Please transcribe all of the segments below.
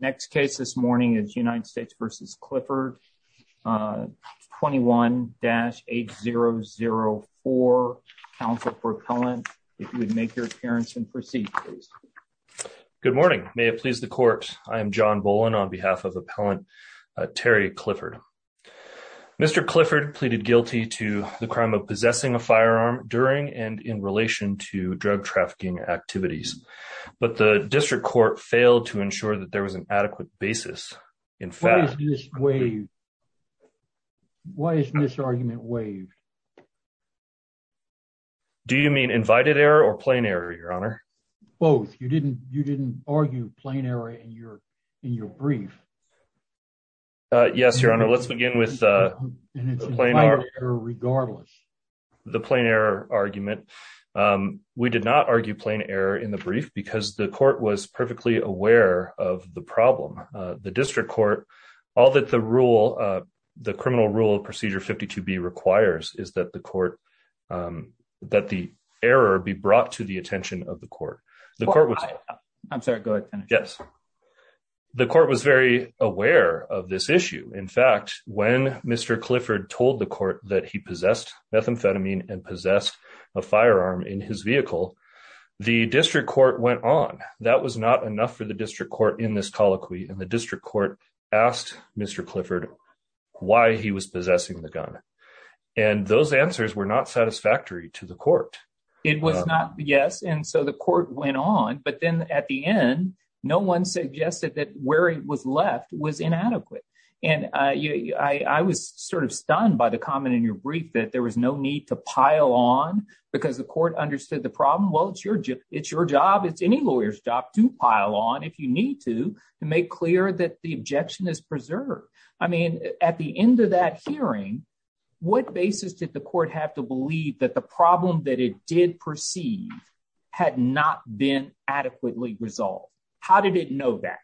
Next case this morning is United States v. Clifford, 21-8004, counsel for appellant. If you would make your appearance and proceed, please. Good morning. May it please the court, I am John Bolin on behalf of appellant Terry Clifford. Mr. Clifford pleaded guilty to the crime of possessing a firearm during and in relation to drug trafficking activities, but the district court failed to ensure that there was an adequate basis. In fact, why is this argument waived? Do you mean invited error or plain error, your honor? Both. You didn't argue plain error in your brief. Yes, your honor. Let's begin with plain error regardless. The plain error argument. We did not argue plain error in the brief because the court was perfectly aware of the problem. The district court, all that the rule, the criminal rule of procedure 52b requires is that the court, that the error be brought to the attention of the court. The court was, I'm sorry, go ahead. Yes. The court was very aware of this issue. In fact, when Mr. Clifford told the court that he possessed methamphetamine and possessed a firearm in his vehicle, the district court went on. That was not enough for the district court in this colloquy. And the district court asked Mr. Clifford why he was possessing the gun. And those answers were not satisfactory to the court. It was not. Yes. And so the court went on, but then at the end, no one suggested that where it was left was inadequate. And I was sort of stunned by the comment in your brief that there was no need to pile on because the court understood the problem. Well, it's your job. It's any lawyer's job to pile on if you need to, to make clear that the objection is preserved. I mean, at the end of that hearing, what basis did the court have to believe that the problem that it did perceive had not been adequately resolved? How did it know that?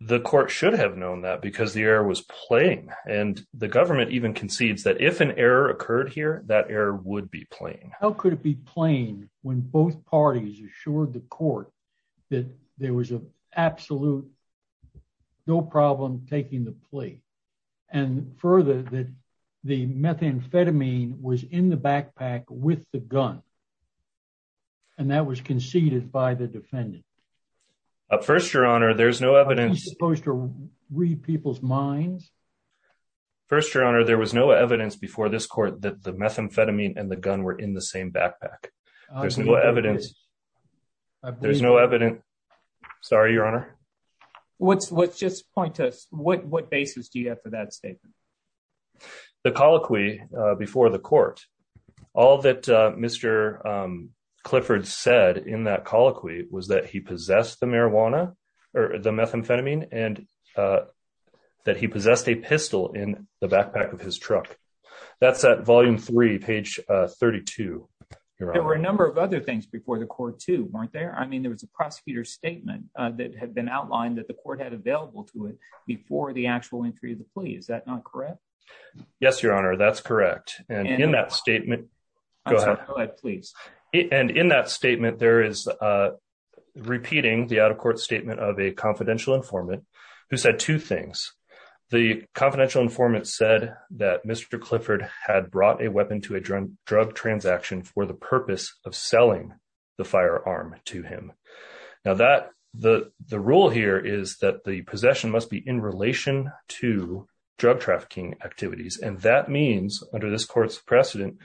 The court should have known that because the error was plain. And the government even concedes that if an error occurred here, that error would be plain. How could it be plain when both parties assured the court that there was an absolute, no problem taking the plea. And further that the methamphetamine was in the backpack with the gun. And that was conceded by the defendant. At first, your honor, there's no evidence supposed to read people's minds. First, your honor, there was no evidence before this court that the methamphetamine and the gun were in the same backpack. There's no evidence. There's no evidence. Sorry, your honor. What's what's just point to us. What basis do you have for that statement? The colloquy before the court, all that Mr. Clifford said in that colloquy was that he possessed the marijuana or the methamphetamine and that he possessed a pistol in the backpack of his truck. That's at volume three, page 32. There were a number of other things before the court too, weren't there? I mean, there was a prosecutor statement that had been outlined that the court had available to it before the actual entry of the plea. Is that not correct? Yes, your honor. That's correct. And in that statement, go ahead, please. And in that statement, there is a repeating the out of court statement of a confidential informant who said two things. The confidential informant said that Mr. Clifford had brought a weapon to drug transaction for the purpose of selling the firearm to him. Now that the rule here is that the possession must be in relation to drug trafficking activities. And that means under this court's precedent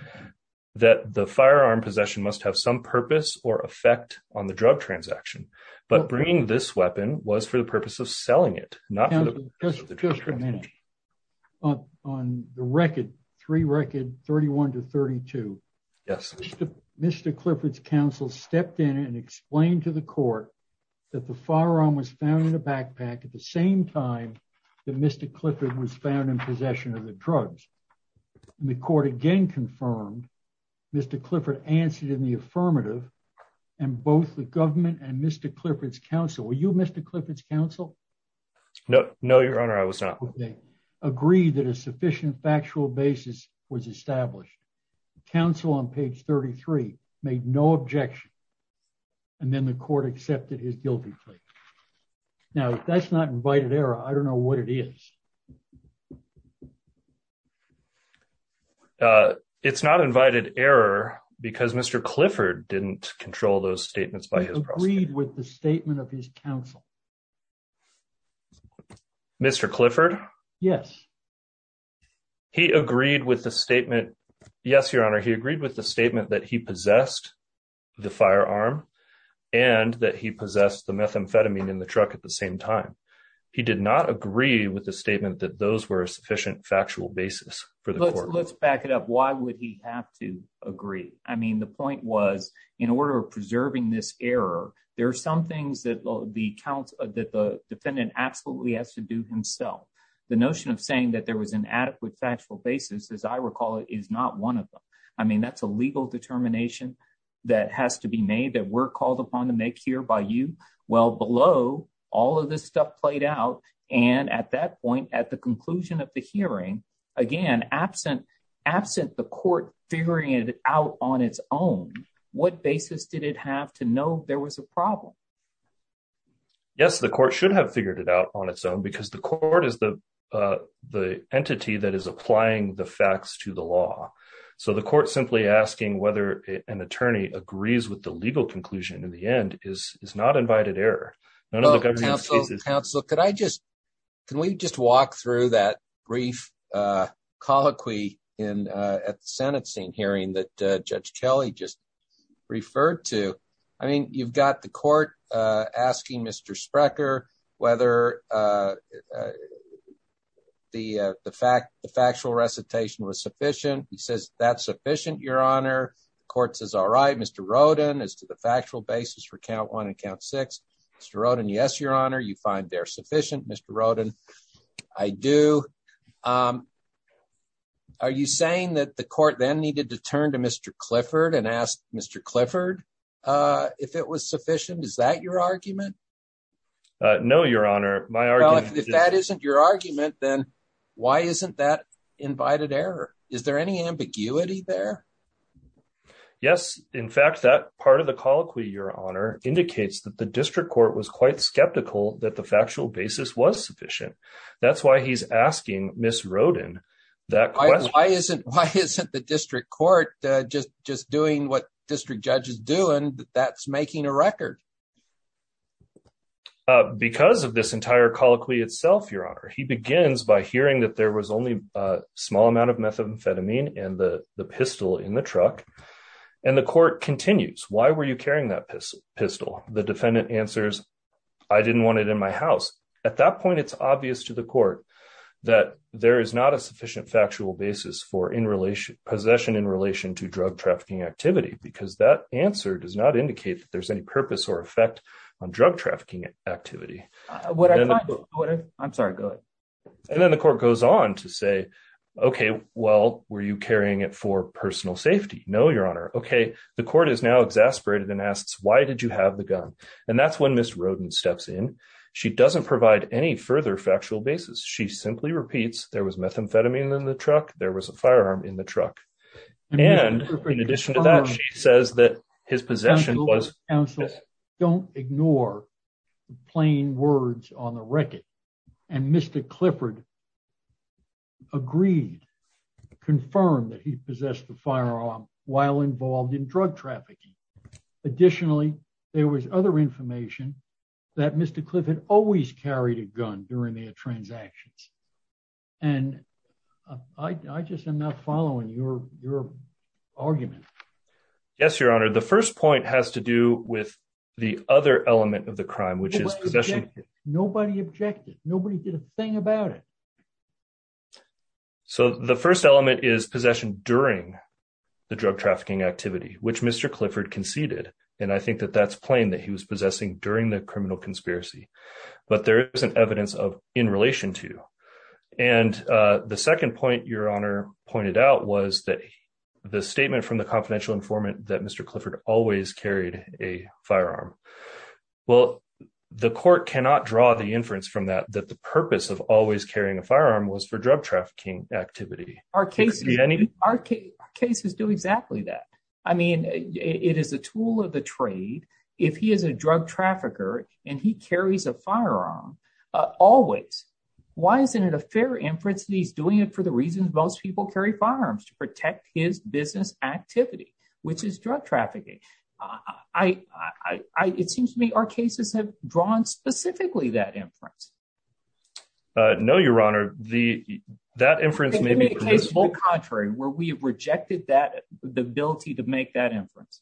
that the firearm possession must have some purpose or effect on the drug transaction. But bringing this weapon was for the purpose of selling it, not just on the record, three record 31 to 32. Yes. Mr. Clifford's counsel stepped in and explained to the court that the firearm was found in the backpack at the same time that Mr. Clifford was found in possession of the drugs. The court again confirmed Mr. Clifford answered in the affirmative and both the government and Mr. Clifford's counsel, were you Mr. Clifford's counsel? No, no, your honor. I was not. Agree that a sufficient factual basis was established. Counsel on page 33 made no objection. And then the court accepted his guilty plea. Now that's not invited error. I don't know what it is. It's not invited error because Mr. Clifford didn't control those statements by his with the statement of his counsel. Mr. Clifford. Yes. He agreed with the statement. Yes, your honor. He agreed with the statement that he possessed the firearm and that he possessed the methamphetamine in the truck at the same time. He did not agree with the statement that those were a sufficient factual basis for the court. Let's back it up. Why would he have to agree? The point was in order of preserving this error, there are some things that the defendant absolutely has to do himself. The notion of saying that there was an adequate factual basis, as I recall, is not one of them. That's a legal determination that has to be made that we're called upon to make here by you. Well, below all of this stuff played out. And at that point, at the conclusion of the hearing, again, absent the court figuring it out on its own, what basis did it have to know there was a problem? Yes, the court should have figured it out on its own because the court is the entity that is applying the facts to the law. So the court simply asking whether an attorney agrees with the legal conclusion in the end is not invited error. Counsel, counsel, could I just can we just walk through that brief colloquy in at the Senate scene hearing that Judge Kelly just referred to? I mean, you've got the court asking Mr. Sprecher whether the the fact the factual recitation was sufficient. He says that's sufficient, Your Honor. Court says, all right, Mr. Rodin is to the factual basis for count one and count six. Mr. Rodin, yes, Your Honor, you find they're sufficient. Mr. Rodin, I do. Are you saying that the court then needed to turn to Mr. Clifford and ask Mr. Clifford if it was sufficient? Is that your argument? No, Your Honor. If that isn't your argument, then why isn't that invited error? Is there any ambiguity there? Yes. In fact, that part of the colloquy, Your Honor, indicates that the district court was quite skeptical that the factual basis was sufficient. That's why he's asking Ms. Rodin that question. Why isn't the district court just doing what district judge is doing? That's making a record. Because of this entire colloquy itself, Your Honor, he begins by hearing that there was only a small amount of methamphetamine in the pistol in the truck. And the court continues. Why were you carrying that pistol? The defendant answers, I didn't want it in my house. At that point, it's obvious to the court that there is not a sufficient factual basis for possession in relation to drug trafficking activity, because that answer does not indicate that there's any purpose or effect on drug trafficking activity. I'm sorry, go ahead. And then the court goes on to say, OK, well, were you carrying it for personal safety? No, Your Honor. OK, the court is exasperated and asks, why did you have the gun? And that's when Ms. Rodin steps in. She doesn't provide any further factual basis. She simply repeats, there was methamphetamine in the truck, there was a firearm in the truck. And in addition to that, she says that his possession was... Don't ignore the plain words on the record. And Mr. Clifford agreed, confirmed that he possessed the firearm while involved in drug trafficking. Additionally, there was other information that Mr. Clifford always carried a gun during their transactions. And I just am not following your argument. Yes, Your Honor. The first point has to do with the other element of the crime, which is possession. Nobody objected. Nobody did a crime. So the first element is possession during the drug trafficking activity, which Mr. Clifford conceded. And I think that that's plain that he was possessing during the criminal conspiracy. But there isn't evidence of in relation to. And the second point Your Honor pointed out was that the statement from the confidential informant that Mr. Clifford always carried a firearm. Well, the court cannot draw the inference from that, that the purpose of always carrying a firearm was for drug trafficking activity. Our cases do exactly that. I mean, it is a tool of the trade. If he is a drug trafficker and he carries a firearm always, why isn't it a fair inference that he's doing it for the reasons most people carry firearms to protect his business activity, which is drug trafficking? It seems to me our cases have drawn specifically that inference. No, Your Honor. That inference may be produced... It may be the case, on the contrary, where we have rejected the ability to make that inference.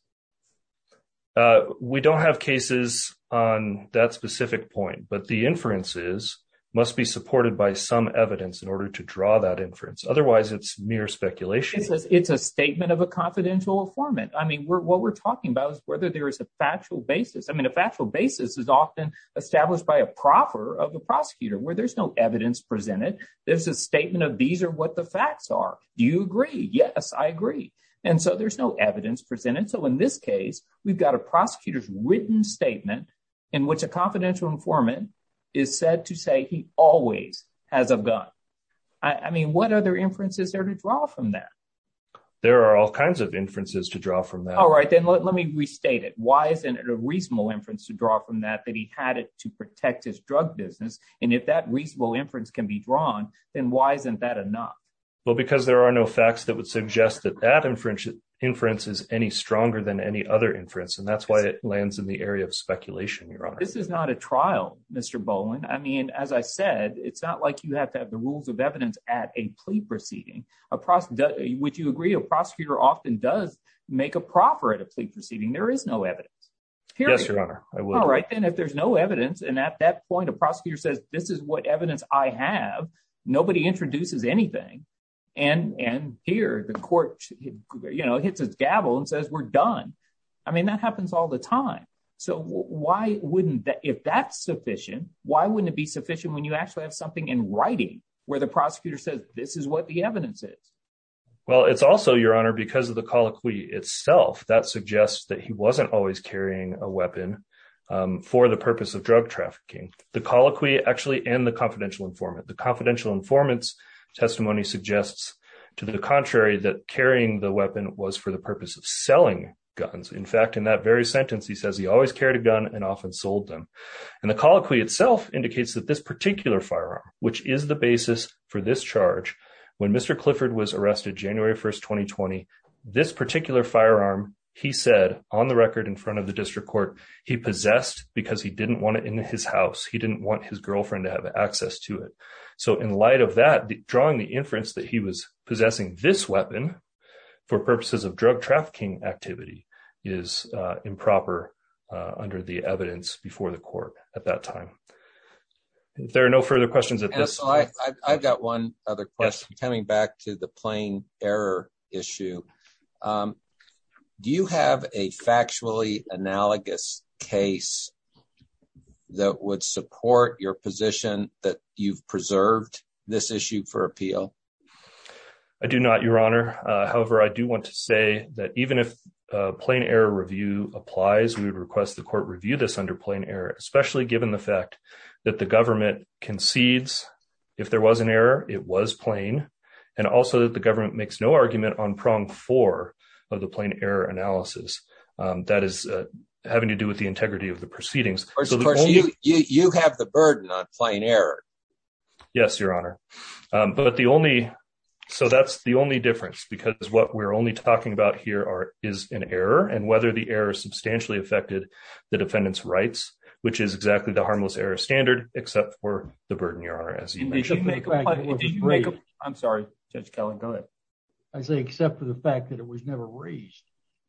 We don't have cases on that specific point, but the inferences must be supported by some evidence in order to draw that inference. Otherwise, it's mere speculation. It's a statement of a confidential informant. I mean, what we're talking about is whether there is a factual basis. I mean, a factual basis is often established by a proffer of the prosecutor where there's no evidence presented. There's a statement of these are what the facts are. Do you agree? Yes, I agree. And so there's no evidence presented. So in this case, we've got a prosecutor's written statement in which a confidential informant is said to say he always has a gun. I mean, what other inferences are to draw from that? There are all kinds of inferences to draw from that. All right, then let me restate it. Why isn't it a reasonable inference to draw from that, that he had it to protect his drug business? And if that reasonable inference can be drawn, then why isn't that enough? Well, because there are no facts that would suggest that that inference is any stronger than any other inference. And that's why it lands in the area of speculation, Your Honor. This is not a trial, Mr. Bowen. I mean, as I said, it's not like you have to have the rules of evidence at a plea proceeding. Would you agree a prosecutor often does make a proffer at a plea proceeding? There is no evidence. Yes, Your Honor. All right, then if there's no evidence, and at that point, a prosecutor says, this is what evidence I have. Nobody introduces anything. And here the court, you know, hits his gavel and says, we're done. I mean, that happens all the time. So why wouldn't that, if that's sufficient, why wouldn't it be sufficient when you actually have something in writing where the prosecutor says, this is what the evidence is? Well, it's also, Your Honor, because of the colloquy itself that suggests that he wasn't always carrying a weapon for the purpose of drug trafficking. The colloquy actually, and the confidential informant, the confidential informant's testimony suggests to the contrary that carrying the weapon was for the purpose of selling guns. In fact, in that very sentence, he says he always carried a gun and often sold them. And the colloquy itself indicates that this particular firearm, which is the basis for this charge, when Mr. Clifford was arrested January 1st, 2020, this particular firearm, he said on the record in front of the district court, he possessed because he didn't want it in his house. He didn't want his girlfriend to have access to it. So in light of that, drawing the inference that he was possessing this weapon for purposes of drug trafficking activity is improper under the evidence before the court at that time. If there are no further questions at this- And so I've got one other question coming back to the plain error issue. Do you have a factually analogous case that would support your position that you've preserved this issue for appeal? I do not, Your Honor. However, I do want to say that even if plain error review applies, we would request the court review this under plain error, especially given the fact that the government concedes if there was an error, it was plain, and also that the government makes no argument on prong four of the plain error analysis. That is having to do with the integrity of the proceedings. Of course, you have the burden on plain error. Yes, Your Honor. So that's the only difference because what we're only talking about here is an error and whether the error substantially affected the defendant's rights, which is exactly the harmless error standard, except for the burden, Your Honor, as you mentioned. I'm sorry, Judge Kelley. Go ahead. I say except for the fact that it was never raised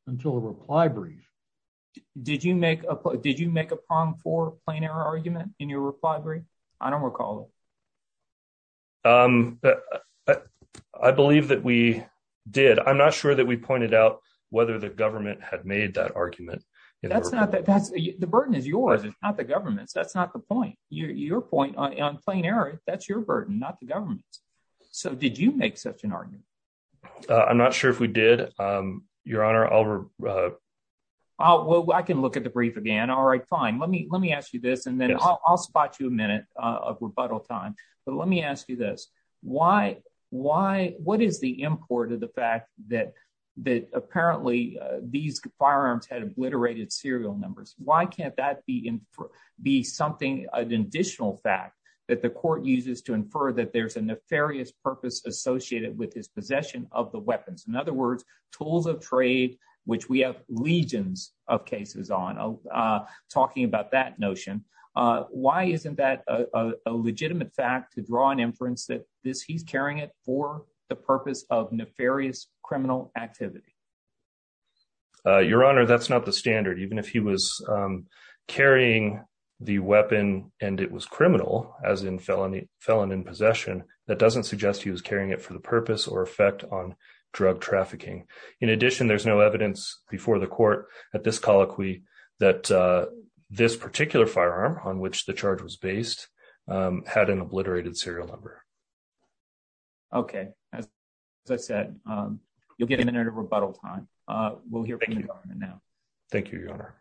until a reply brief. Did you make a prong four plain error argument in your reply brief? I don't recall. I believe that we did. I'm not sure that we pointed out whether the government had made that argument. The burden is yours. It's not the government's. That's not the point. Your point on plain error, that's your burden, not the government's. So did you make such an argument? I'm not sure if we did, Your Honor. Well, I can look at the brief again. All right, fine. Let me ask you this and then I'll spot you a minute of rebuttal time. But let me ask you this. What is the import of the fact that apparently these firearms had obliterated serial numbers? Why can't that be an additional fact that the court uses to infer that there's a nefarious purpose associated with his possession of the weapons? In other words, tools of trade, which we have legions of cases on, talking about that notion. Why isn't that a legitimate fact to draw an inference that he's carrying it for the purpose of nefarious criminal activity? Your Honor, that's not the standard. Even if he was carrying the weapon and it was criminal, as in felon in possession, that doesn't suggest he was carrying it for the purpose or effect on before the court at this colloquy that this particular firearm on which the charge was based had an obliterated serial number. Okay. As I said, you'll get a minute of rebuttal time. We'll hear from the government now. Thank you, Your Honor.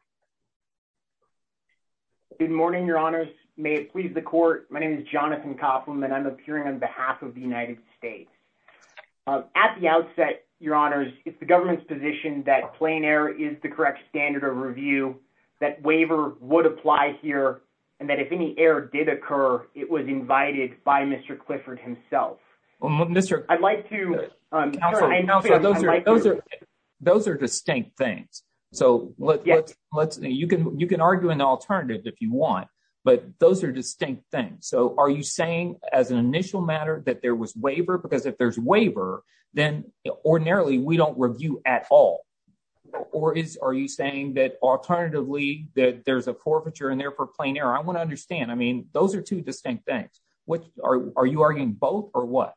Good morning, Your Honors. May it please the court. My name is Jonathan Koppelman and I'm appearing on behalf of the United States. At the outset, Your Honors, it's the government's that plain air is the correct standard of review, that waiver would apply here, and that if any error did occur, it was invited by Mr. Clifford himself. Those are distinct things. You can argue an alternative if you want, but those are distinct things. Are you saying as an initial matter that there was waiver? Because if there's waiver, then ordinarily we don't review at all. Or are you saying that alternatively, that there's a forfeiture in there for plain air? I want to understand. I mean, those are two distinct things. Are you arguing both or what?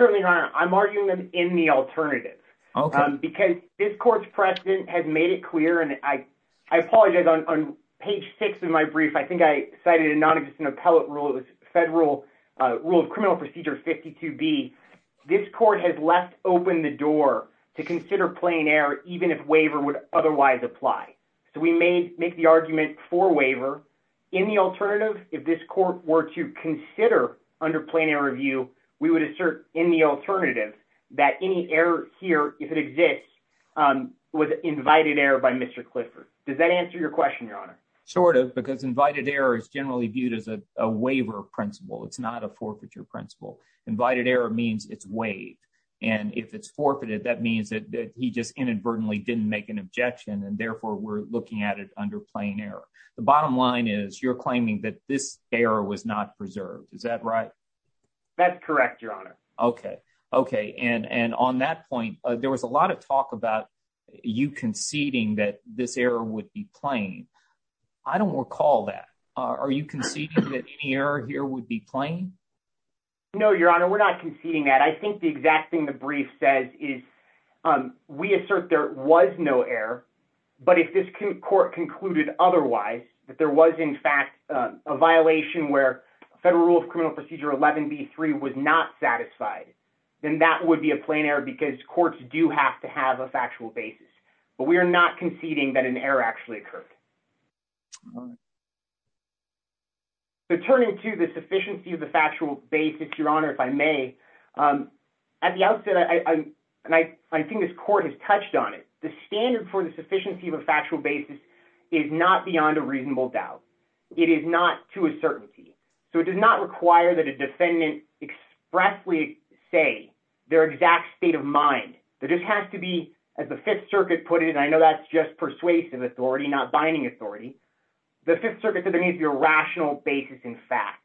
Certainly, Your Honor. I'm arguing them in the alternative because this court's precedent has made it clear, and I apologize on page six of my brief, I think I cited a non-existent appellate federal rule of criminal procedure 52B. This court has left open the door to consider plain air even if waiver would otherwise apply. So we may make the argument for waiver. In the alternative, if this court were to consider under plain air review, we would assert in the alternative that any error here, if it exists, was invited error by Mr. Clifford. Does that answer your question, Your Honor? Sort of because invited error is generally viewed as a waiver principle. It's not a forfeiture principle. Invited error means it's waived. And if it's forfeited, that means that he just inadvertently didn't make an objection and therefore we're looking at it under plain air. The bottom line is you're claiming that this error was not preserved. Is that right? That's correct, Your Honor. Okay. Okay. And on that point, there was a lot of talk about you conceding that this error would be conceded that any error here would be plain? No, Your Honor. We're not conceding that. I think the exact thing the brief says is we assert there was no error. But if this court concluded otherwise, that there was in fact a violation where federal rule of criminal procedure 11B3 was not satisfied, then that would be a plain error because courts do have to have a factual basis. But we are not conceding that an error actually occurred. So turning to the sufficiency of the factual basis, Your Honor, if I may, at the outset, and I think this court has touched on it, the standard for the sufficiency of a factual basis is not beyond a reasonable doubt. It is not to a certainty. So it does not require that a defendant expressly say their exact state of mind. There just has to be, as the Fifth Circuit put it, and I know that's just persuasive authority, not binding authority. The Fifth Circuit has a rational basis in fact.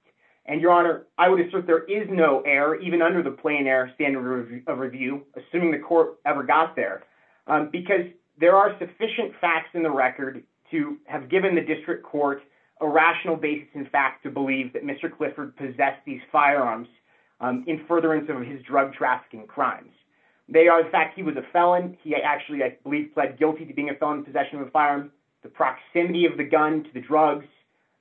And Your Honor, I would assert there is no error, even under the plain error standard of review, assuming the court ever got there, because there are sufficient facts in the record to have given the district court a rational basis in fact to believe that Mr. Clifford possessed these firearms in furtherance of his drug trafficking crimes. They are the fact he was a felon. He actually, I believe, pled guilty to being a felon in possession of a firearm. The proximity of the gun to the drugs,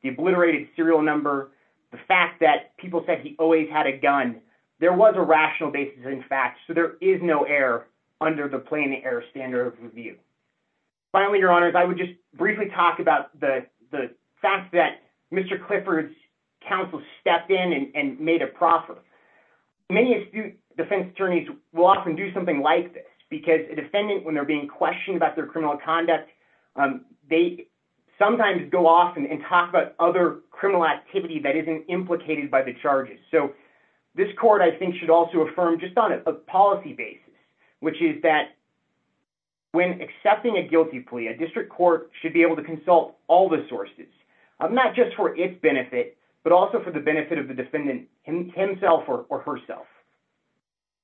the obliterated serial number, the fact that people said he always had a gun, there was a rational basis in fact. So there is no error under the plain error standard of review. Finally, Your Honors, I would just briefly talk about the fact that Mr. Clifford's counsel stepped in and made a proffer. Many astute defense attorneys will often do something like this, because a defendant, when they're being questioned about their criminal conduct, they sometimes go off and talk about other criminal activity that isn't implicated by the charges. So this court, I think, should also affirm just on a policy basis, which is that when accepting a guilty plea, a district court should be able to consult all the sources, not just for its benefit, but also for the benefit of the defendant himself or herself.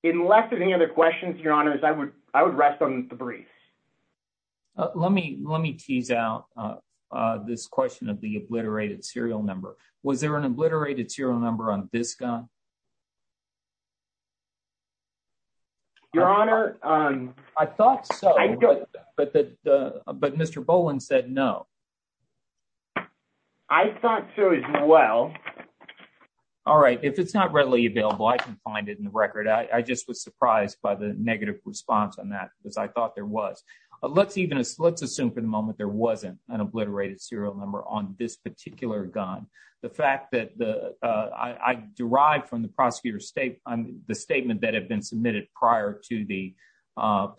Unless there's any other questions, Your Honors, I would rest on the brief. Let me tease out this question of the obliterated serial number. Was there an obliterated serial number on this gun? Your Honor, I thought so, but Mr. Boland said no. I thought so as well. All right, if it's not readily available, I can find it in the record. I just was surprised by the negative response on that, because I thought there was. Let's assume for the moment there wasn't an obliterated serial number on this particular gun. The fact that I derived from the statement that had been submitted prior to the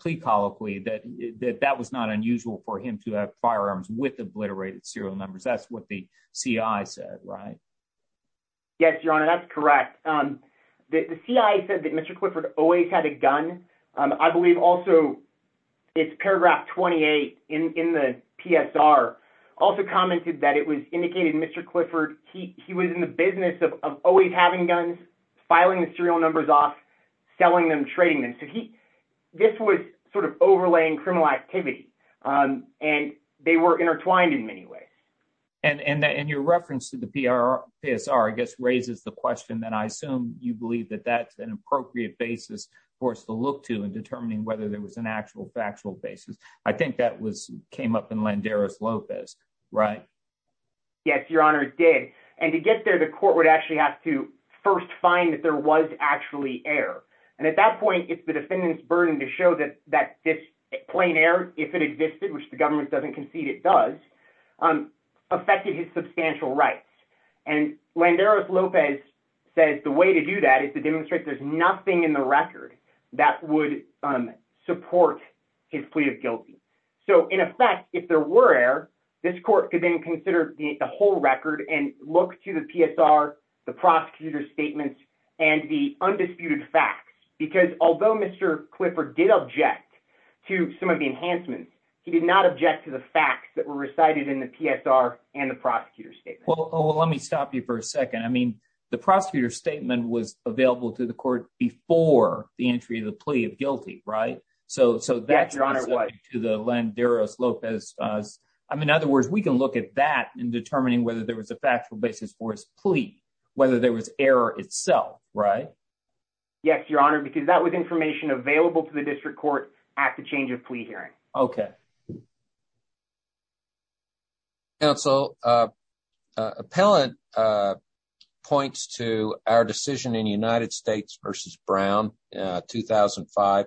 plea colloquy that that was not unusual for him to have firearms with obliterated serial numbers. That's what the C.I. said, right? Yes, Your Honor, that's correct. The C.I. said that Mr. Clifford always had a gun. I believe also it's paragraph 28 in the PSR also commented that it was indicated Mr. Clifford, he was in the business of always having guns, filing the serial numbers off, selling them, trading them. This was sort of overlaying criminal activity, and they were and your reference to the PSR, I guess, raises the question that I assume you believe that that's an appropriate basis for us to look to in determining whether there was an actual factual basis. I think that came up in Landeros-Lopez, right? Yes, Your Honor, it did. And to get there, the court would actually have to first find that there was actually error. And at that point, it's the defendant's burden to show that this plain error, if it existed, which the government doesn't concede it does, affected his substantial rights. And Landeros-Lopez says the way to do that is to demonstrate there's nothing in the record that would support his plea of guilty. So in effect, if there were error, this court could then consider the whole record and look to the PSR, the prosecutor's statements, and the undisputed facts. Because although Mr. Clifford did object to some of the enhancements, he did not object to the facts that were recited in the PSR and the prosecutor's statement. Well, let me stop you for a second. I mean, the prosecutor's statement was available to the court before the entry of the plea of guilty, right? So that's specific to the Landeros-Lopez. I mean, in other words, we can look at that in determining whether there was a factual basis for his plea, whether there was error itself, right? Yes, Your Honor, because that was information available to the district court at the change of plea hearing. Okay. Counsel, appellant points to our decision in United States versus Brown, 2005,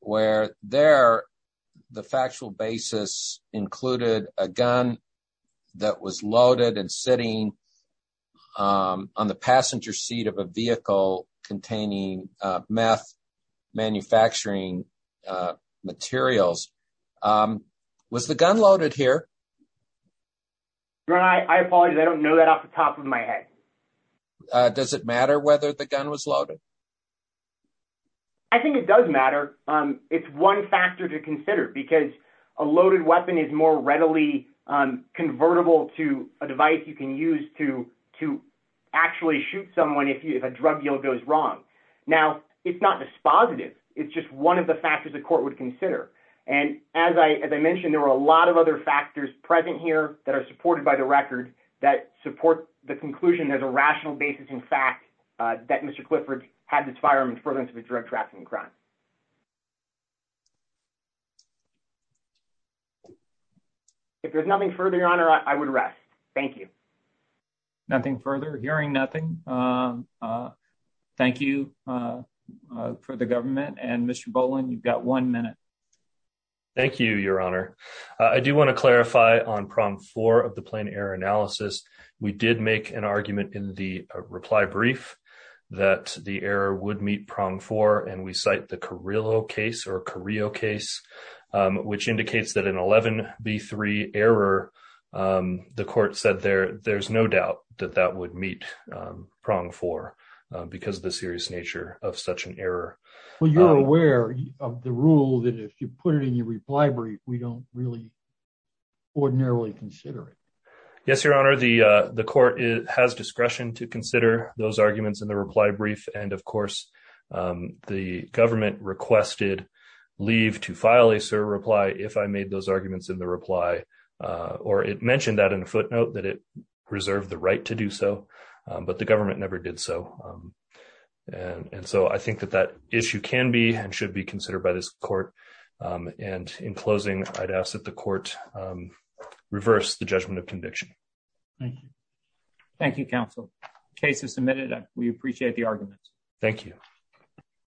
where there, the factual basis included a gun that was loaded and sitting on the passenger seat of a vehicle containing meth manufacturing materials. Was the gun loaded here? Your Honor, I apologize. I don't know that off the top of my head. Does it matter whether the gun was loaded? I think it does matter. It's one factor to consider because a loaded weapon is more readily convertible to a device you can use to actually shoot someone if a drug deal goes wrong. Now, it's not dispositive. It's just one of the factors the court would consider. And as I mentioned, there were a lot of other factors present here that are supported by the record that support the conclusion there's a rational basis in fact that Mr. Clifford had this firearm in front of him to be drug trafficking crime. If there's nothing further, Your Honor, I would rest. Thank you. Nothing further. Hearing nothing. Thank you for the government and Mr. Boland, you've got one minute. Thank you, Your Honor. I do want to clarify on prong four of the plane error analysis. We did make an argument in the reply brief that the error would meet prong four and we cite the Carrillo case or Carrillo case, which indicates that an 11B3 error, the court said there's no doubt that that would meet prong four because of the serious nature of such an error. Well, you're aware of the rule that if you put it in your reply brief, we don't really ordinarily consider it. Yes, Your Honor, the court has discretion to consider those arguments in the reply brief. And of course, the government requested leave to file a reply if I made those arguments in the reply, or it mentioned that in a footnote that it reserved the right to do so, but the government never did so. And so I think that that issue can be and should be considered by this court. And in closing, I'd ask that the court reverse the judgment of conviction. Thank you. Thank you, counsel. Case is submitted. We appreciate the argument. Thank you.